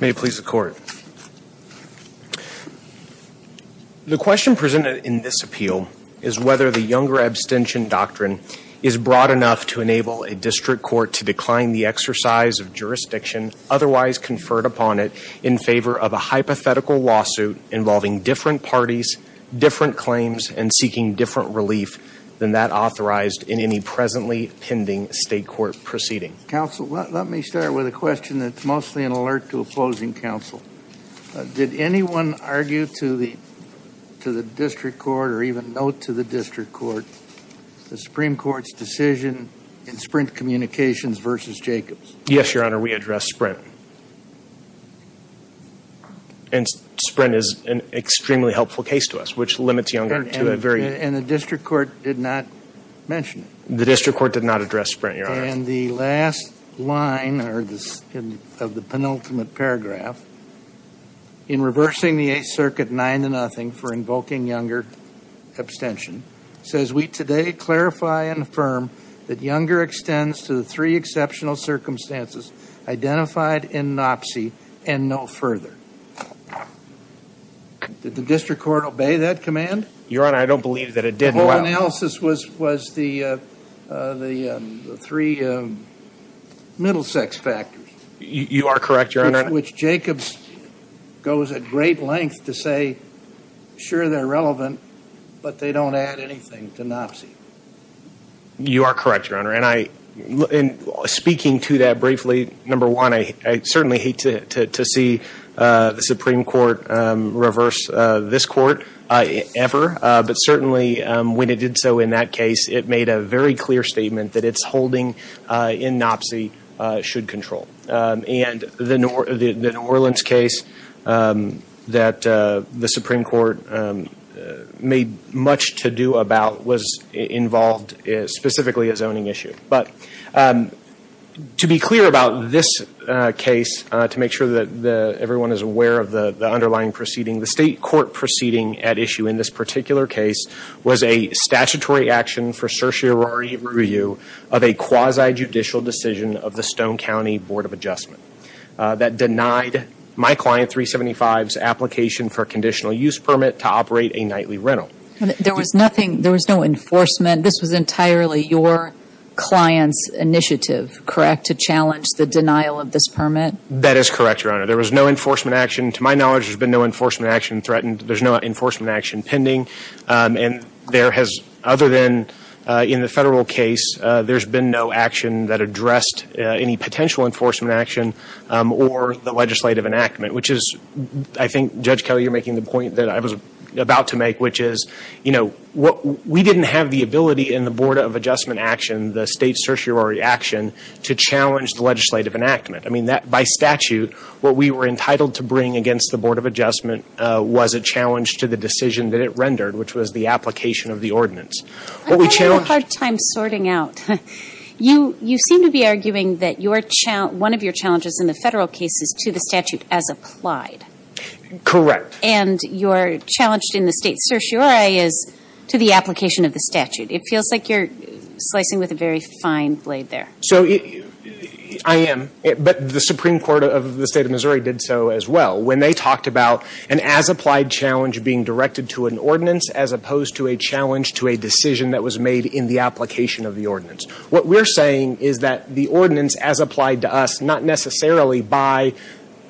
May it please the Court. The question presented in this appeal is whether the Younger Abstention Doctrine is broad enough to enable a district court to decline the exercise of jurisdiction otherwise conferred upon it in favor of a hypothetical lawsuit involving different parties, different claims, and seeking different relief than that authorized in any presently pending state court proceeding. Counsel, let me start with a question that's mostly an alert to opposing counsel. Did anyone argue to the district court or even note to the district court the Supreme Court's decision in Sprint Communications v. Jacobs? Yes, Your Honor. We addressed Sprint, and Sprint is an extremely helpful case to us, which limits Younger to a very And the district court did not mention it? The district court did not address Sprint, Your Honor. And the last line of the penultimate paragraph, in reversing the Eighth Circuit nine to nothing for invoking Younger abstention, says, we today clarify and affirm that Younger extends to the three exceptional circumstances identified in NOPCY and no further. Did the district court obey that command? Your Honor, I don't believe that it did. The whole analysis was the three middle sex factors. You are correct, Your Honor. Which Jacobs goes at great length to say, sure, they're relevant, but they don't add anything to NOPCY. You are correct, Your Honor. And speaking to that briefly, number one, I certainly hate to see the Supreme Court reverse this court ever. But certainly, when it did so in that case, it made a very clear statement that its holding in NOPCY should control. And the New Orleans case that the Supreme Court made much to do about was involved specifically a zoning issue. But to be clear about this case, to make sure that everyone is aware of the underlying proceeding, the state court proceeding at issue in this particular case was a statutory action for certiorari review of a quasi-judicial decision of the Stone County Board of Adjustment that denied my client 375's application for conditional use permit to operate a nightly rental. There was nothing, there was no enforcement. This was entirely your client's initiative, correct, to challenge the denial of this permit? That is correct, Your Honor. There was no enforcement action. To my knowledge, there's been no enforcement action threatened. There's no enforcement action pending. And there has, other than in the federal case, there's been no action that addressed any potential enforcement action or the legislative enactment. Which is, I think Judge Kelly, you're making the point that I was about to make, which is, you know, we didn't have the ability in the Board of Adjustment action, the state certiorari action, to challenge the legislative enactment. I mean, by statute, what we were entitled to bring against the Board of Adjustment was a challenge to the decision that it rendered, which was the application of the ordinance. I'm having a hard time sorting out. You seem to be arguing that one of your challenges in the federal case is to the statute as applied. Correct. And your challenge in the state certiorari is to the application of the statute. It feels like you're slicing with a very fine blade there. So, I am, but the Supreme Court of the state of Missouri did so as well. When they talked about an as applied challenge being directed to an ordinance, as opposed to a challenge to a decision that was made in the application of the ordinance. What we're saying is that the ordinance as applied to us, not necessarily by,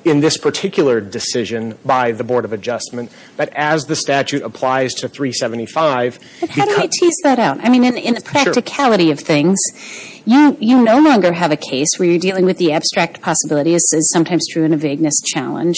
in this particular decision by the Board of Adjustment, but as the statute applies to 375. But how do you tease that out? I mean, in the practicality of things, you no longer have a case where you're dealing with the abstract possibility, as is sometimes true in a vagueness challenge,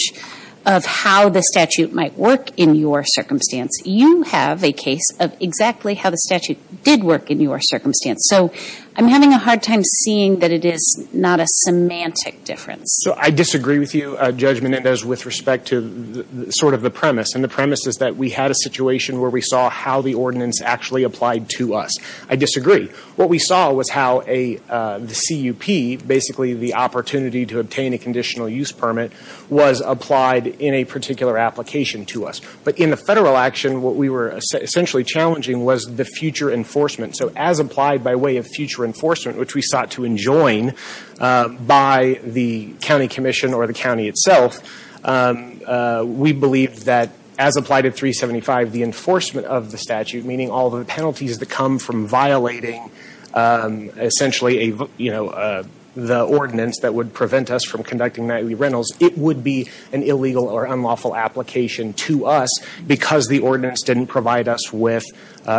of how the statute might work in your circumstance. You have a case of exactly how the statute did work in your circumstance. So, I'm having a hard time seeing that it is not a semantic difference. So, I disagree with you, Judge Menendez, with respect to sort of the premise. And the premise is that we had a situation where we saw how the ordinance actually applied to us. I disagree. What we saw was how a, the CUP, basically the opportunity to obtain a conditional use permit was applied in a particular application to us. But in the federal action, what we were essentially challenging was the future enforcement. So, as applied by way of future enforcement, which we sought to enjoin by the county commission or the county itself, we believed that, as applied at 375, the enforcement of the statute, meaning all the penalties that come from violating essentially a, you know, the ordinance that would prevent us from conducting nightly rentals, it would be an illegal or unlawful application to us because the ordinance didn't provide us with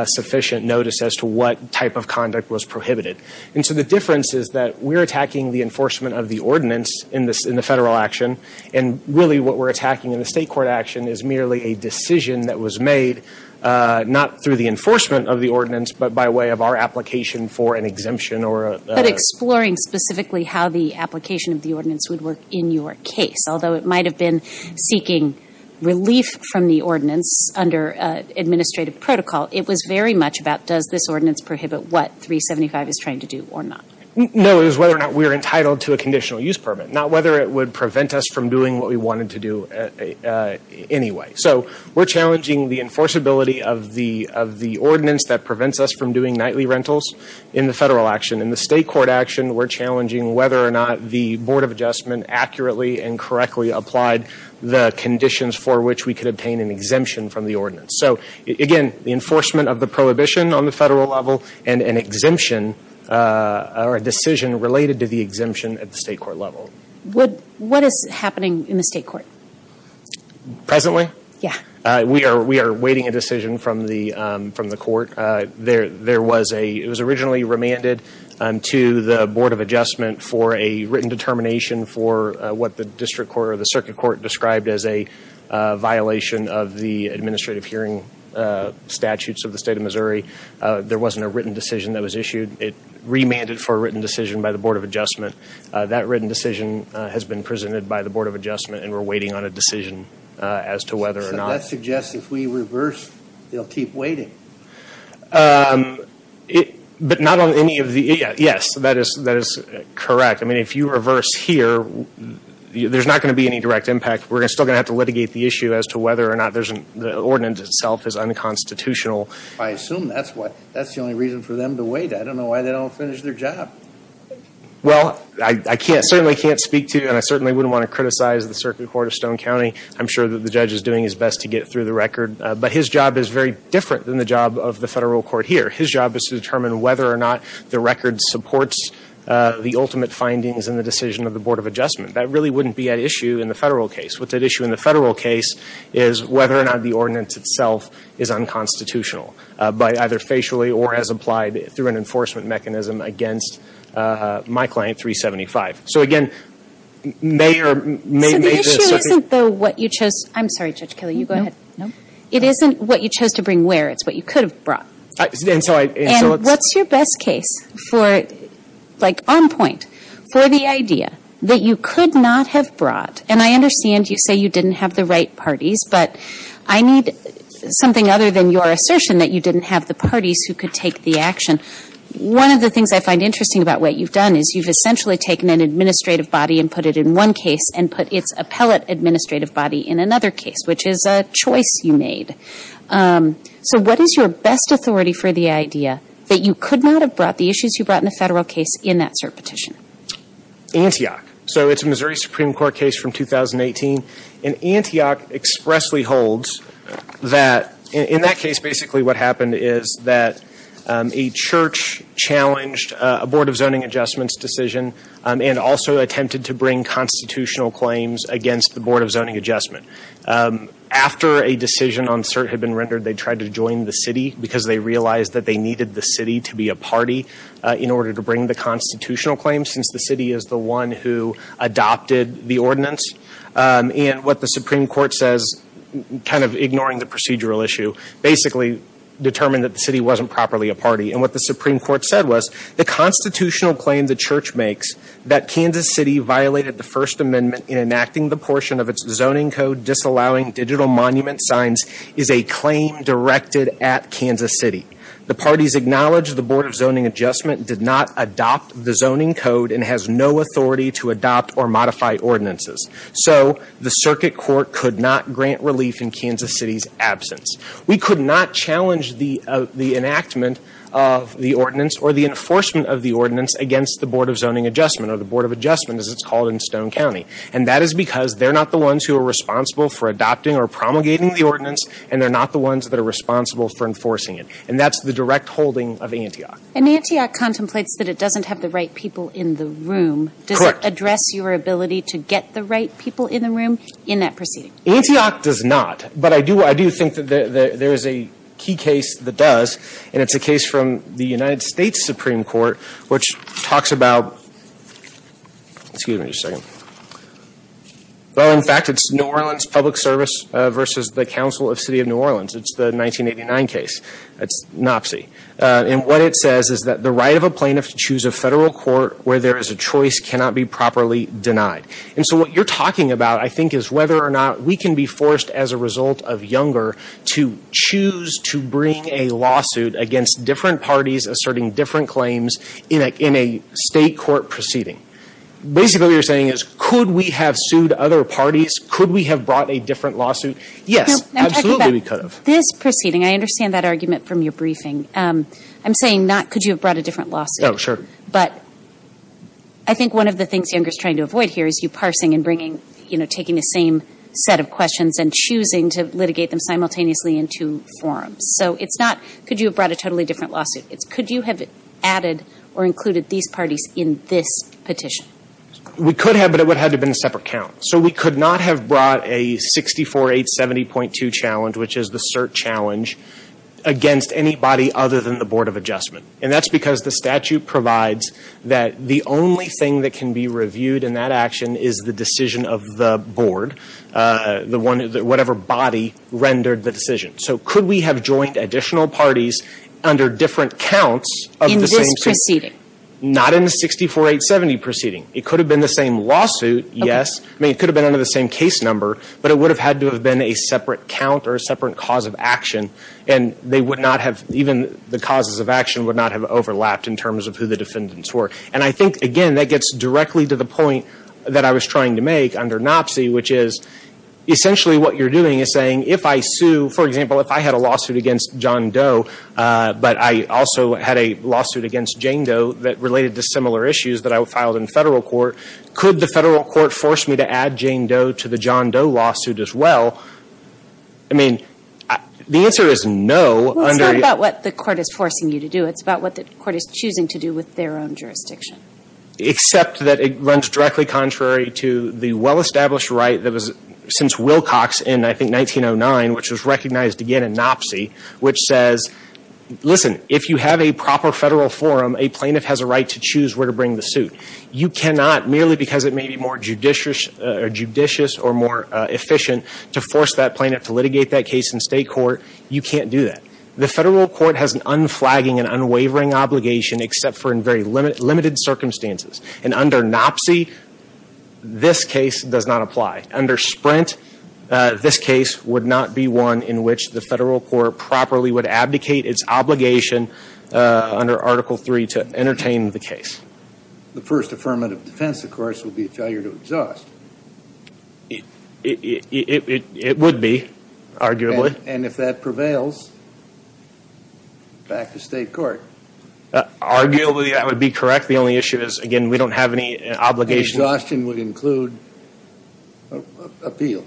sufficient notice as to what type of conduct was prohibited. And so, the difference is that we're attacking the enforcement of the ordinance in the federal action, and really what we're attacking in the state court action is merely a decision that was made not through the enforcement of the ordinance, but by way of our application for an exemption or a. But exploring specifically how the application of the ordinance would work in your case. Although it might have been seeking relief from the ordinance under administrative protocol, it was very much about does this ordinance prohibit what 375 is trying to do or not. No, it was whether or not we were entitled to a conditional use permit, not whether it would prevent us from doing what we wanted to do anyway. So, we're challenging the enforceability of the ordinance that prevents us from doing nightly rentals in the federal action. In the state court action, we're challenging whether or not the board of adjustment accurately and correctly applied the conditions for which we could obtain an exemption from the ordinance. So, again, the enforcement of the prohibition on the federal level and an exemption or a decision related to the exemption at the state court level. What is happening in the state court? Presently? Yeah. We are awaiting a decision from the court. There was a, it was originally remanded to the board of adjustment for a written determination for what the district court or the circuit court described as a violation of the administrative hearing statutes of the state of Missouri. There wasn't a written decision that was issued. It remanded for a written decision by the board of adjustment. That written decision has been presented by the board of adjustment and we're waiting on a decision as to whether or not. So, that suggests if we reverse, they'll keep waiting. But not on any of the, yes, that is correct. I mean, if you reverse here, there's not going to be any direct impact. We're still going to have to litigate the issue as to whether or not the ordinance itself is unconstitutional. I assume that's what, that's the only reason for them to wait. I don't know why they don't finish their job. Well, I can't, certainly can't speak to, and I certainly wouldn't want to criticize the circuit court of Stone County. I'm sure that the judge is doing his best to get through the record. But his job is very different than the job of the federal court here. His job is to determine whether or not the record supports the ultimate findings in the decision of the board of adjustment. That really wouldn't be at issue in the federal case. What's at issue in the federal case is whether or not the ordinance itself is unconstitutional by either facially or as applied through an enforcement mechanism against my client, 375. So, again, may or may not make this such a. So, the issue isn't though what you chose, I'm sorry, Judge Kelly, you go ahead. No. It isn't what you chose to bring where, it's what you could have brought. And so, I. And what's your best case for, like on point, for the idea that you could not have brought, and I understand you say you didn't have the right parties, but I need something other than your assertion that you didn't have the parties who could take the action. One of the things I find interesting about what you've done is you've essentially taken an administrative body and put it in one case and put its appellate administrative body in another case, which is a choice you made. So, what is your best authority for the idea that you could not have brought the issues you brought in the federal case in that cert petition? Antioch. So, it's a Missouri Supreme Court case from 2018. And Antioch expressly holds that, in that case, basically what happened is that a church challenged a Board of Zoning Adjustments decision and also attempted to bring constitutional claims against the Board of Zoning Adjustment. After a decision on cert had been rendered, they tried to join the city because they realized that they needed the city to be a party in order to bring the constitutional claims, since the city is the one who adopted the ordinance. And what the Supreme Court says, kind of ignoring the procedural issue, basically determined that the city wasn't properly a party. And what the Supreme Court said was, the constitutional claim the church makes that Kansas City violated the First Amendment in enacting the portion of its zoning code disallowing digital monument signs is a claim directed at Kansas City. The parties acknowledge the Board of Zoning Adjustment did not adopt the zoning code and has no authority to adopt or modify ordinances. So, the circuit court could not grant relief in Kansas City's absence. We could not challenge the enactment of the ordinance or the enforcement of the ordinance against the Board of Zoning Adjustment, or the Board of Adjustment, as it's called in Stone County. And that is because they're not the ones who are responsible for adopting or promulgating the ordinance, and they're not the ones that are responsible for enforcing it. And that's the direct holding of Antioch. And Antioch contemplates that it doesn't have the right people in the room. Correct. Does it address your ability to get the right people in the room in that proceeding? Antioch does not. But I do think that there is a key case that does, and it's a case from the United States Supreme Court, which talks about, excuse me just a second, well, in fact, it's New Orleans Public Service versus the Council of City of New Orleans. It's the 1989 case. It's an op-see. And what it says is that the right of a plaintiff to choose a federal court where there is a choice cannot be properly denied. And so what you're talking about, I think, is whether or not we can be forced as a result of Younger to choose to bring a lawsuit against different parties asserting different claims in a state court proceeding. Basically, what you're saying is, could we have sued other parties? Could we have brought a different lawsuit? Yes, absolutely we could have. This proceeding, I understand that argument from your briefing. I'm saying not could you have brought a different lawsuit. Oh, sure. But I think one of the things Younger is trying to avoid here is you parsing and bringing, you know, taking the same set of questions and choosing to litigate them simultaneously in two forms. So it's not could you have brought a totally different lawsuit. It's could you have added or included these parties in this petition? We could have, but it would have had to have been a separate count. So we could not have brought a 64870.2 challenge, which is the cert challenge, against anybody other than the Board of Adjustment. And that's because the statute provides that the only thing that can be reviewed in that action is the decision of the board, the one, whatever body rendered the decision. So could we have joined additional parties under different counts of the same proceeding? Not in the 64870 proceeding. It could have been the same lawsuit, yes. I mean, it could have been under the same case number, but it would have had to have been a separate count or a separate cause of action. And they would not have, even the causes of action would not have overlapped in terms of who the defendants were. And I think, again, that gets directly to the point that I was trying to make under NOPSI, which is essentially what you're doing is saying if I sue, for example, if I had a lawsuit against John Doe, but I also had a lawsuit against Jane Doe that related to similar issues that I filed in federal court, could the federal court force me to add Jane Doe to the John Doe lawsuit as well? I mean, the answer is no. Well, it's not about what the court is forcing you to do. It's about what the court is choosing to do with their own jurisdiction. Except that it runs directly contrary to the well-established right that was since Wilcox in, I think, 1909, which was recognized, again, in NOPSI, which says, listen, if you have a proper federal forum, a plaintiff has a right to choose where to bring the suit. You cannot, merely because it may be more judicious or more efficient to force that plaintiff to litigate that case in state court, you can't do that. The federal court has an unflagging and unwavering obligation except for in very limited circumstances. And under NOPSI, this case does not apply. Under Sprint, this case would not be one in which the federal court properly would abdicate its obligation under Article III to entertain the case. The first affirmative defense, of course, would be a failure to exhaust. It would be, arguably. And if that prevails, back to state court. Arguably, that would be correct. The only issue is, again, we don't have any obligation. Exhaustion would include appeal.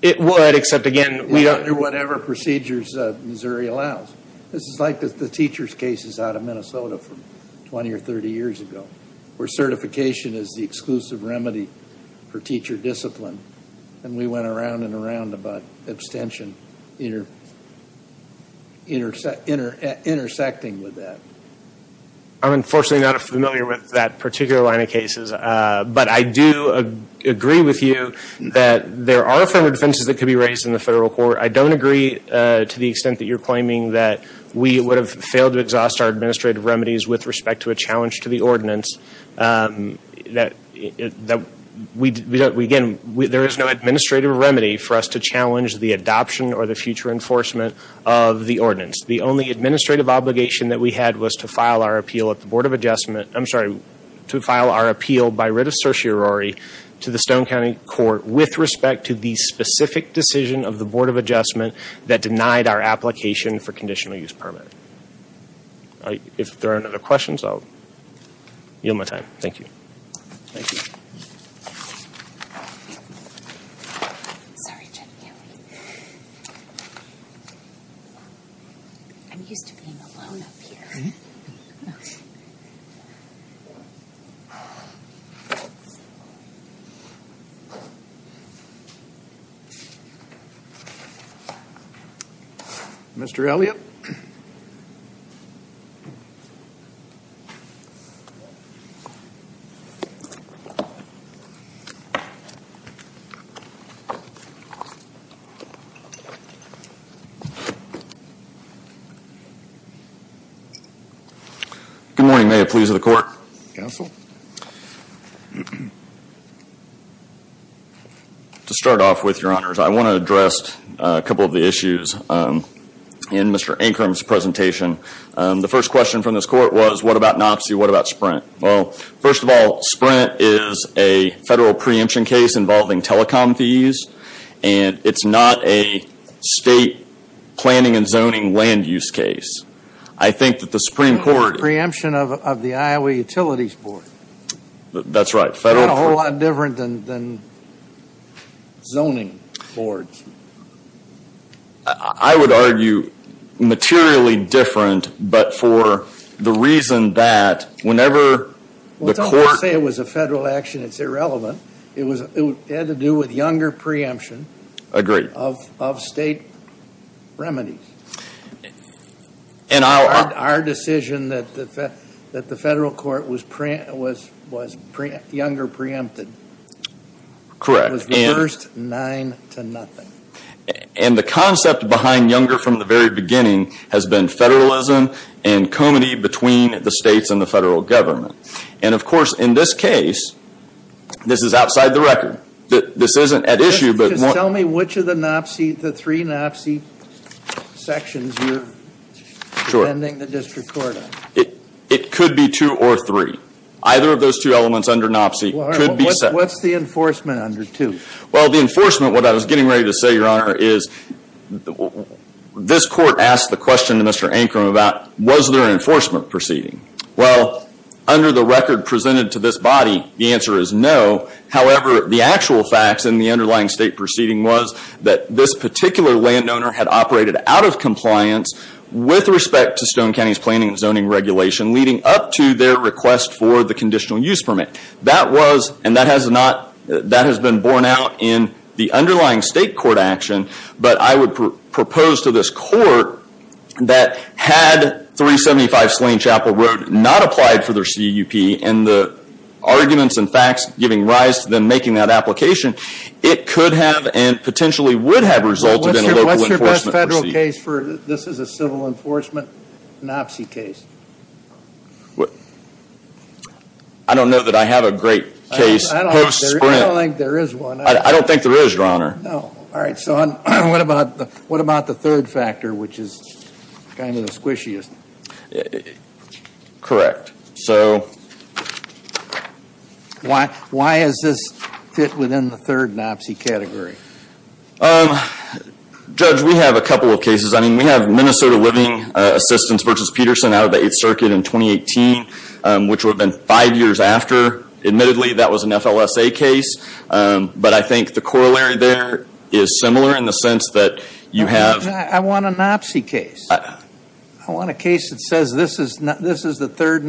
It would, except, again, we don't. Under whatever procedures Missouri allows. This is like the teacher's cases out of Minnesota from 20 or 30 years ago, where certification is the exclusive remedy for teacher discipline. And we went around and around about abstention intersecting with that. I'm unfortunately not familiar with that particular line of cases. But I do agree with you that there are affirmative defenses that could be raised in the federal court. I don't agree to the extent that you're claiming that we would have failed to exhaust our administrative remedies with respect to a challenge to the ordinance. Again, there is no administrative remedy for us to challenge the adoption or the future enforcement of the ordinance. The only administrative obligation that we had was to file our appeal at the Board of Adjustment, I'm sorry, to file our appeal by writ of certiorari to the Stone County Court with respect to the specific decision of the Board of Adjustment that denied our application for conditional use permit. If there are no other questions, I'll yield my time. Thank you. Thank you. I'm used to being alone up here. Mr. Elliott. Good morning. May it please the court. Counsel. To start off with, your honors, I want to address a couple of the issues in Mr. Ancrum's presentation. The first question from this court was, what about NOPC? What about SPRINT? Well, first of all, SPRINT is a federal preemption case involving telecom fees, and it's not a state planning and zoning land use case. I think that the Supreme Court... Preemption of the Iowa Utilities Board. That's right. Not a whole lot different than zoning boards. I would argue materially different, but for the reason that whenever the court... Well, don't say it was a federal action. It's irrelevant. It had to do with younger preemption of state remedies. And our decision that the federal court was younger preempted. Correct. That was the first nine to nothing. And the concept behind younger from the very beginning has been federalism and comity between the states and the federal government. And of course, in this case, this is outside the record. This isn't at issue, but... Just tell me which of the NOPC, the three NOPC sections you're defending the district court on. It could be two or three. Either of those two elements under NOPC could be set. What's the enforcement under two? Well, the enforcement, what I was getting ready to say, Your Honor, is this court asked the question to Mr. Ancrum about was there an enforcement proceeding? Well, under the record presented to this body, the answer is no. However, the actual facts in the underlying state proceeding was that this particular landowner had operated out of compliance with respect to Stone County's planning and zoning regulation leading up to their request for the conditional use permit. That was, and that has not, that has been borne out in the underlying state court action. But I would propose to this court that had 375 Slain Chapel Road not applied for their CUP and the arguments and facts giving rise to them making that application, it could have and potentially would have resulted in a local enforcement proceeding. What's your best federal case for, this is a civil enforcement NOPC case? I don't know that I have a great case post-sprint. I don't think there is one. I don't think there is, Your Honor. No. All right. So what about the third factor, which is kind of the squishiest? Correct. So why is this fit within the third NOPC category? Judge, we have a couple of cases. I mean, we have Minnesota Living Assistance v. Peterson out of the 8th Circuit in 2018, which would have been five years after. Admittedly, that was an FLSA case. But I think the corollary there is similar in the sense that you have. I want a NOPC case. I want a case that says this is the third,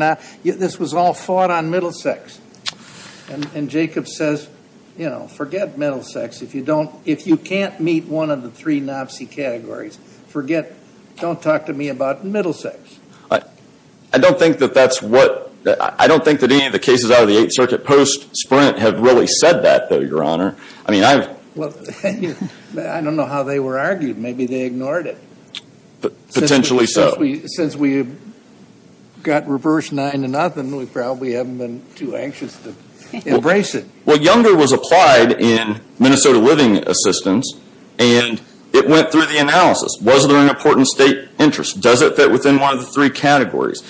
this was all fought on Middlesex. And Jacob says, you know, forget Middlesex. If you don't, if you can't meet one of the three NOPC categories, forget, don't talk to me about Middlesex. I don't think that that's what, I don't think that any of the cases out of the 8th Circuit post-sprint have really said that, though, Your Honor. I mean, I've. Well, I don't know how they were argued. Maybe they ignored it. Potentially so. Since we got reversed nine to nothing, we probably haven't been too anxious to embrace it. Well, Younger was applied in Minnesota Living Assistance and it went through the analysis. Was there an important state interest? Does it fit within one of the three categories?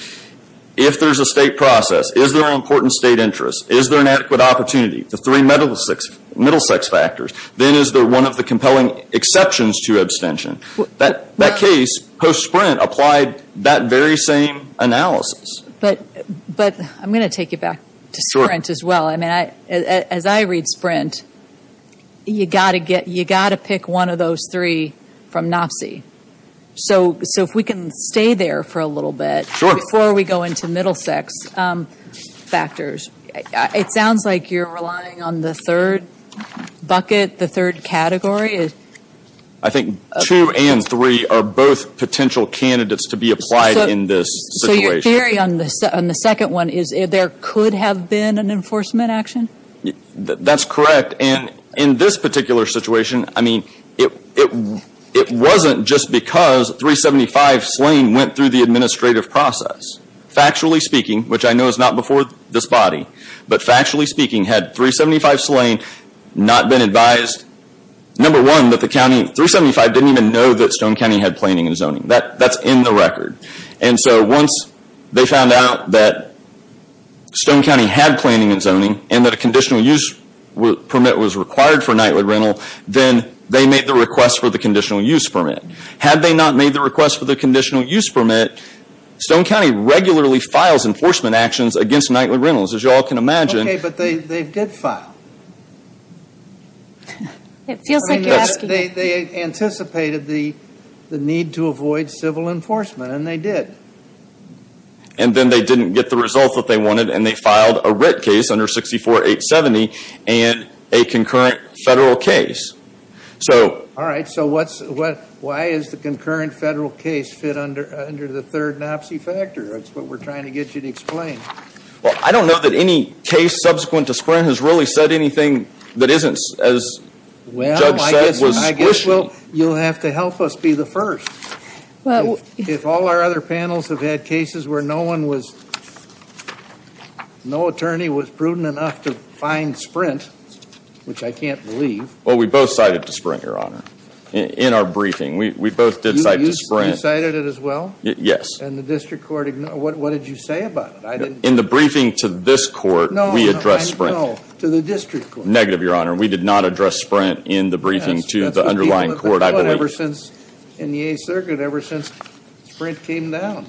If there's a state process, is there an important state interest? Is there an adequate opportunity? The three Middlesex factors. Then is there one of the compelling exceptions to abstention? That case, post-sprint, applied that very same analysis. But I'm going to take you back to sprint as well. I mean, as I read sprint, you've got to pick one of those three from NOPC. So if we can stay there for a little bit before we go into Middlesex factors. It sounds like you're relying on the third bucket, the third category. I think two and three are both potential candidates to be applied in this situation. So your theory on the second one is there could have been an enforcement action? That's correct. And in this particular situation, I mean, it wasn't just because 375 Slane went through the administrative process. Factually speaking, which I know is not before this body, but factually speaking, had 375 Slane not been advised, number one, that the county, 375 didn't even know that Stone County had planning and zoning. That's in the record. And so once they found out that Stone County had planning and zoning and that a conditional use permit was required for nightly rental, then they made the request for the conditional use permit. Had they not made the request for the conditional use permit, Stone County regularly files enforcement actions against nightly rentals. As you all can imagine. Okay, but they did file. It feels like you're asking. They anticipated the need to avoid civil enforcement, and they did. And then they didn't get the results that they wanted, and they filed a writ case under 64-870 and a concurrent federal case. All right, so why is the concurrent federal case fit under the third NOPSI factor? That's what we're trying to get you to explain. Well, I don't know that any case subsequent to Sprint has really said anything that isn't, as Judge said, was wishy. Well, I guess you'll have to help us be the first. Well, if all our other panels have had cases where no one was, no attorney was prudent enough to find Sprint, which I can't believe. Well, we both cited to Sprint, Your Honor, in our briefing. We both did cite to Sprint. You cited it as well? Yes. And the district court, what did you say about it? In the briefing to this court, we addressed Sprint. No, to the district court. Negative, Your Honor. We did not address Sprint in the briefing to the underlying court, I believe. That's been the deal of the club ever since, in the 8th Circuit, ever since Sprint came down.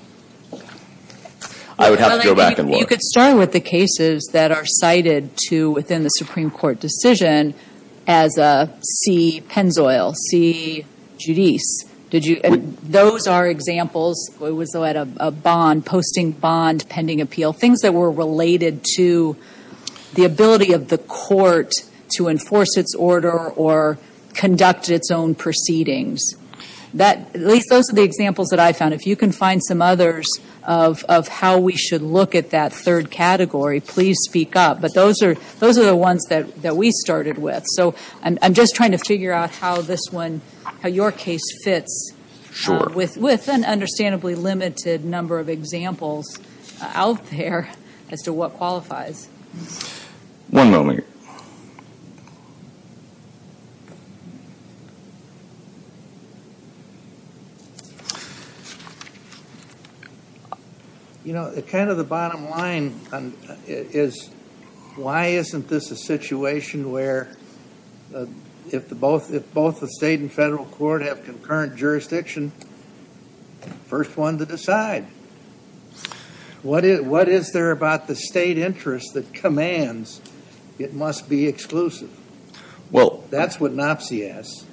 I would have to go back and look. You could start with the cases that are cited to within the Supreme Court decision as C. Penzoil, C. Judice. Did you, and those are examples, it was at a bond, posting bond, pending appeal, things that were related to the ability of the court to enforce its order or conduct its own proceedings. That, at least those are the examples that I found. If you can find some others of how we should look at that third category, please speak up. But those are the ones that we started with. So, I'm just trying to figure out how this one, how your case fits with an understandably limited number of examples out there as to what qualifies. One moment. You know, kind of the bottom line is why isn't this a situation where if both the state and federal court have concurrent jurisdiction, first one to decide? What is there about the state interest that commands it must be exclusive? Well, that's what Nopsey asks.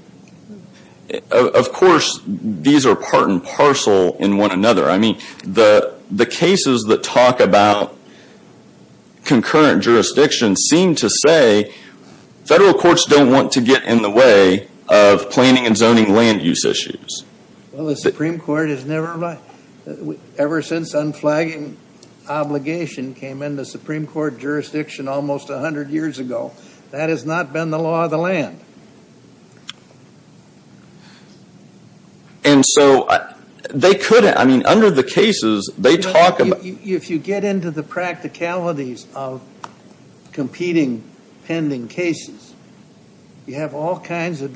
Of course, these are part and parcel in one another. I mean, the cases that talk about concurrent jurisdiction seem to say federal courts don't want to get in the way of planning and zoning land use issues. Well, the Supreme Court has never, ever since unflagging obligation came in the Supreme Court jurisdiction almost 100 years ago, that has not been the law of the land. And so, they couldn't, I mean, under the cases, they talk about. You know, if you get into the practicalities of competing pending cases, you have all kinds of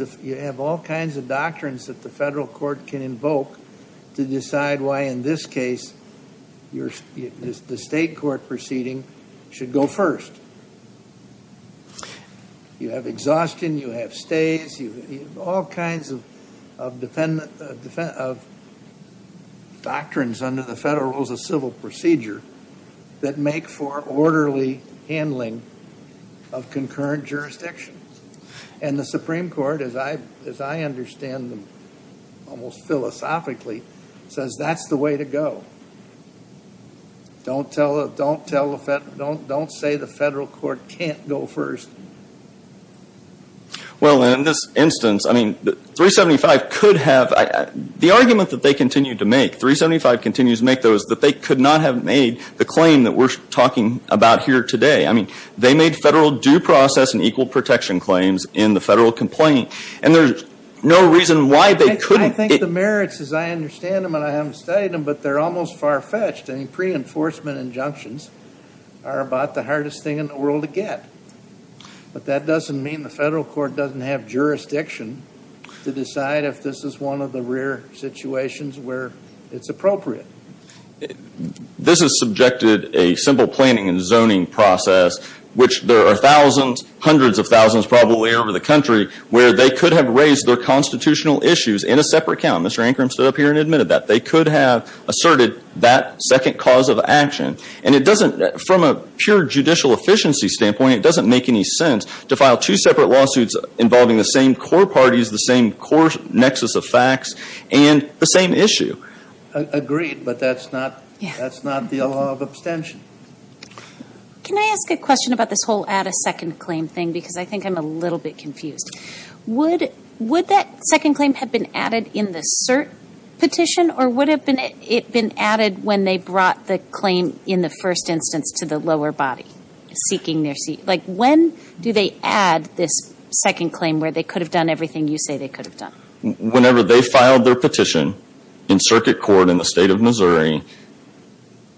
doctrines that the federal court can invoke to decide why in this case, the state court proceeding should go first. You have exhaustion, you have stays, you have all kinds of doctrines under the federal rules of civil procedure that make for orderly handling of concurrent jurisdictions. And the Supreme Court, as I understand them almost philosophically, says that's the way to go. Don't say the federal court can't go first. Well, in this instance, I mean, 375 could have, the argument that they continue to make, 375 continues to make though, is that they could not have made the claim that we're talking about here today. I mean, they made federal due process and equal protection claims in the federal complaint. And there's no reason why they couldn't. I think the merits, as I understand them, and I haven't studied them, but they're almost far-fetched. I mean, pre-enforcement injunctions are about the hardest thing in the world to get. But that doesn't mean the federal court doesn't have jurisdiction to decide if this is one of the rare situations where it's appropriate. This has subjected a simple planning and zoning process, which there are thousands, hundreds of thousands probably over the country, where they could have raised their constitutional issues in a separate count. Mr. Ancrum stood up here and admitted that. They could have asserted that second cause of action. And it doesn't, from a pure judicial efficiency standpoint, it doesn't make any sense to file two separate lawsuits involving the same core parties, the same core nexus of facts, and the same issue. Agreed, but that's not the law of abstention. Can I ask a question about this whole add a second claim thing? Because I think I'm a little bit confused. Would that second claim have been added in the cert petition, or would it have been added when they brought the claim in the first instance to the lower body, seeking their seat? Like, when do they add this second claim where they could have done everything you say they could have done? Whenever they filed their petition in circuit court in the state of Missouri,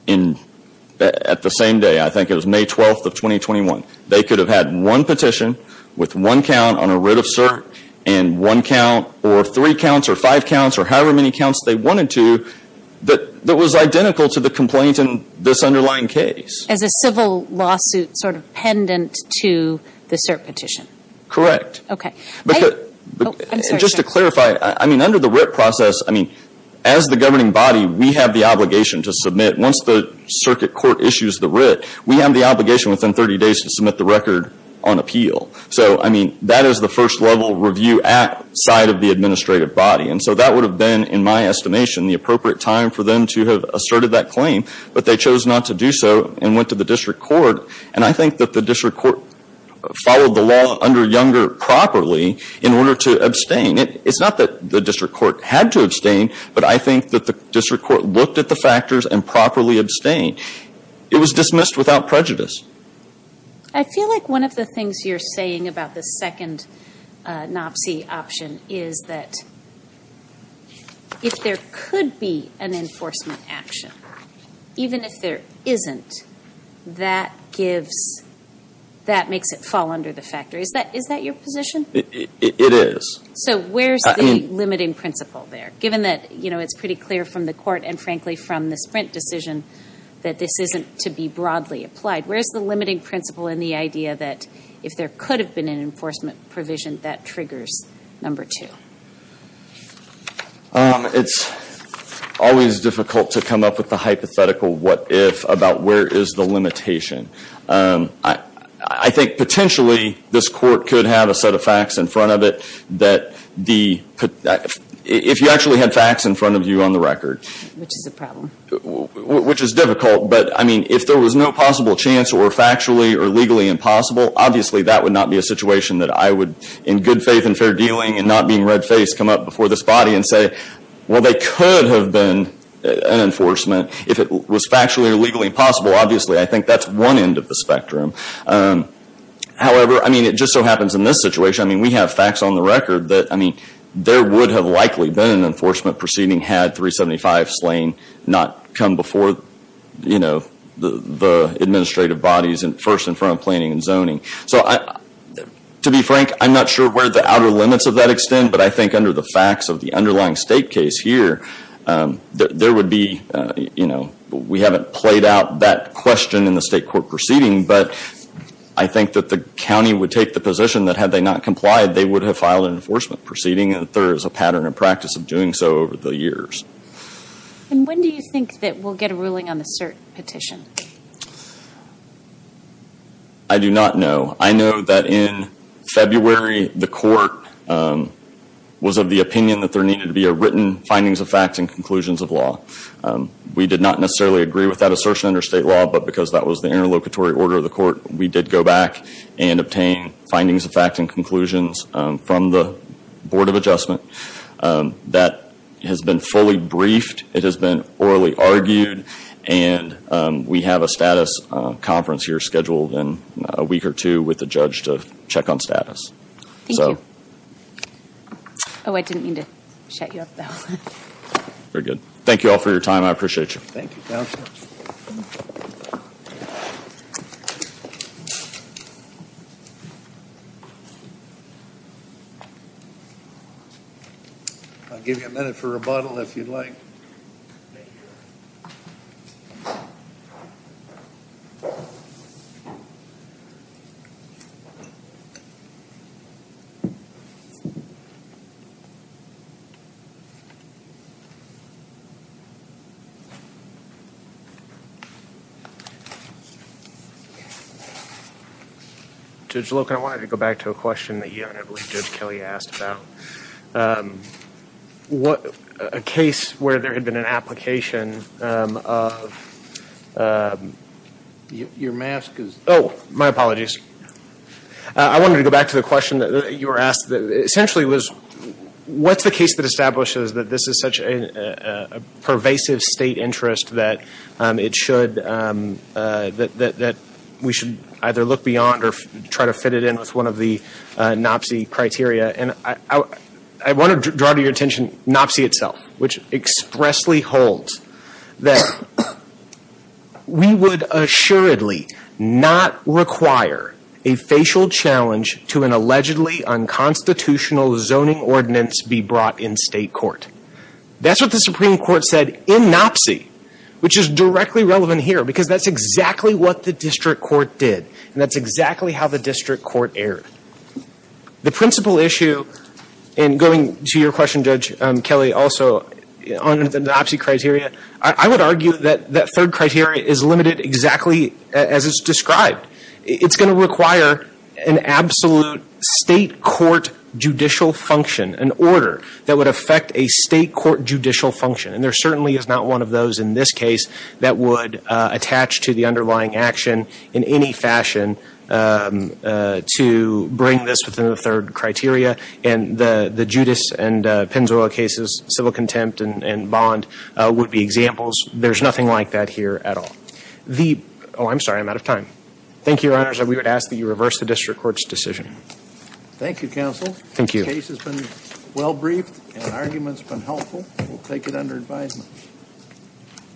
at the same day, I think it was May 12th of 2021, they could have had one petition with one count on a writ of cert, and one count, or three counts, or five counts, or however many counts they wanted to, that was identical to the complaint in this underlying case. As a civil lawsuit sort of pendant to the cert petition? Correct. Okay. But just to clarify, I mean, under the writ process, I mean, as the governing body, we have the obligation to submit, once the circuit court issues the writ, we have the obligation within 30 days to submit the record on appeal. So, I mean, that is the first level review at side of the administrative body. And so that would have been, in my estimation, the appropriate time for them to have asserted that claim, but they chose not to do so, and went to the district court. And I think that the district court followed the law under Younger properly in order to abstain. It's not that the district court had to abstain, but I think that the district court looked at the factors and properly abstained. It was dismissed without prejudice. I feel like one of the things you're saying about the second NOPC option is that if there could be an enforcement action, even if there isn't, that gives, that makes it fall under the factor. Is that your position? It is. So where's the limiting principle there? Given that, you know, it's pretty clear from the court and, frankly, from the Sprint decision that this isn't to be broadly applied. Where's the limiting principle in the idea that if there could have been an enforcement provision, that triggers number two? It's always difficult to come up with the hypothetical what if about where is the limitation. I think potentially this court could have a set of facts in front of it that the, if you actually had facts in front of you on the record. Which is a problem. Which is difficult, but I mean, if there was no possible chance or factually or legally impossible, obviously that would not be a situation that I would, in good faith and fair dealing and not being red faced, come up before this body and say, well, there could have been an enforcement. If it was factually or legally impossible, obviously I think that's one end of the spectrum. However, I mean, it just so happens in this situation, I mean, we have facts on the record that, I mean, there would have likely been an enforcement proceeding had 375 Slane not come before, you know, the administrative bodies first in front of planning and zoning. So, to be frank, I'm not sure where the outer limits of that extend, but I think under the facts of the underlying state case here, there would be, you know, we haven't played out that question in the state court proceeding, but I think that the county would take the position that had they not complied, they would have filed an enforcement proceeding, and that there is a pattern and practice of doing so over the years. And when do you think that we'll get a ruling on the cert petition? I do not know. I know that in February, the court was of the opinion that there needed to be a written findings of facts and conclusions of law. We did not necessarily agree with that assertion under state law, but because that was the interlocutory order of the court, we did go back and obtain findings of facts and conclusions from the Board of Adjustment that has been fully briefed, it has been orally argued, and we have a status conference here scheduled in a week or two with the judge to check on status. Thank you. Oh, I didn't mean to shut you up, though. Very good. Thank you all for your time. I appreciate you. Thank you, counsel. I'll give you a minute for rebuttal, if you'd like. Judge Loken, I wanted to go back to a question that you and I believe Judge Kelly asked about. What a case where there had been an application of your mask is... Oh, my apologies. I wanted to go back to the question that you were asked that essentially was, what's the case that establishes that this is such a pervasive state interest that it should, that we should either look beyond or try to fit it in with one of the NOPC criteria? And I want to draw to your attention NOPC itself, which expressly holds that we would assuredly not require a facial challenge to an allegedly unconstitutional zoning ordinance be brought in state court. That's what the Supreme Court said in NOPC, which is directly relevant here because that's exactly what the district court did, and that's exactly how the district court erred. The principal issue, and going to your question, Judge Kelly, also on the NOPC criteria, I would argue that that third criteria is limited exactly as it's described. It's going to require an absolute state court judicial function, an order that would affect a state court judicial function. And there certainly is not one of those in this case that would attach to the underlying action in any fashion to bring this within the third criteria. And the Judas and Penzoil cases, civil contempt and bond, would be examples. There's nothing like that here at all. The, oh, I'm sorry, I'm out of time. Thank you, Your Honors. We would ask that you reverse the district court's decision. Thank you, Counsel. Thank you. The case has been well briefed, and the argument's been helpful. We'll take it under advisement.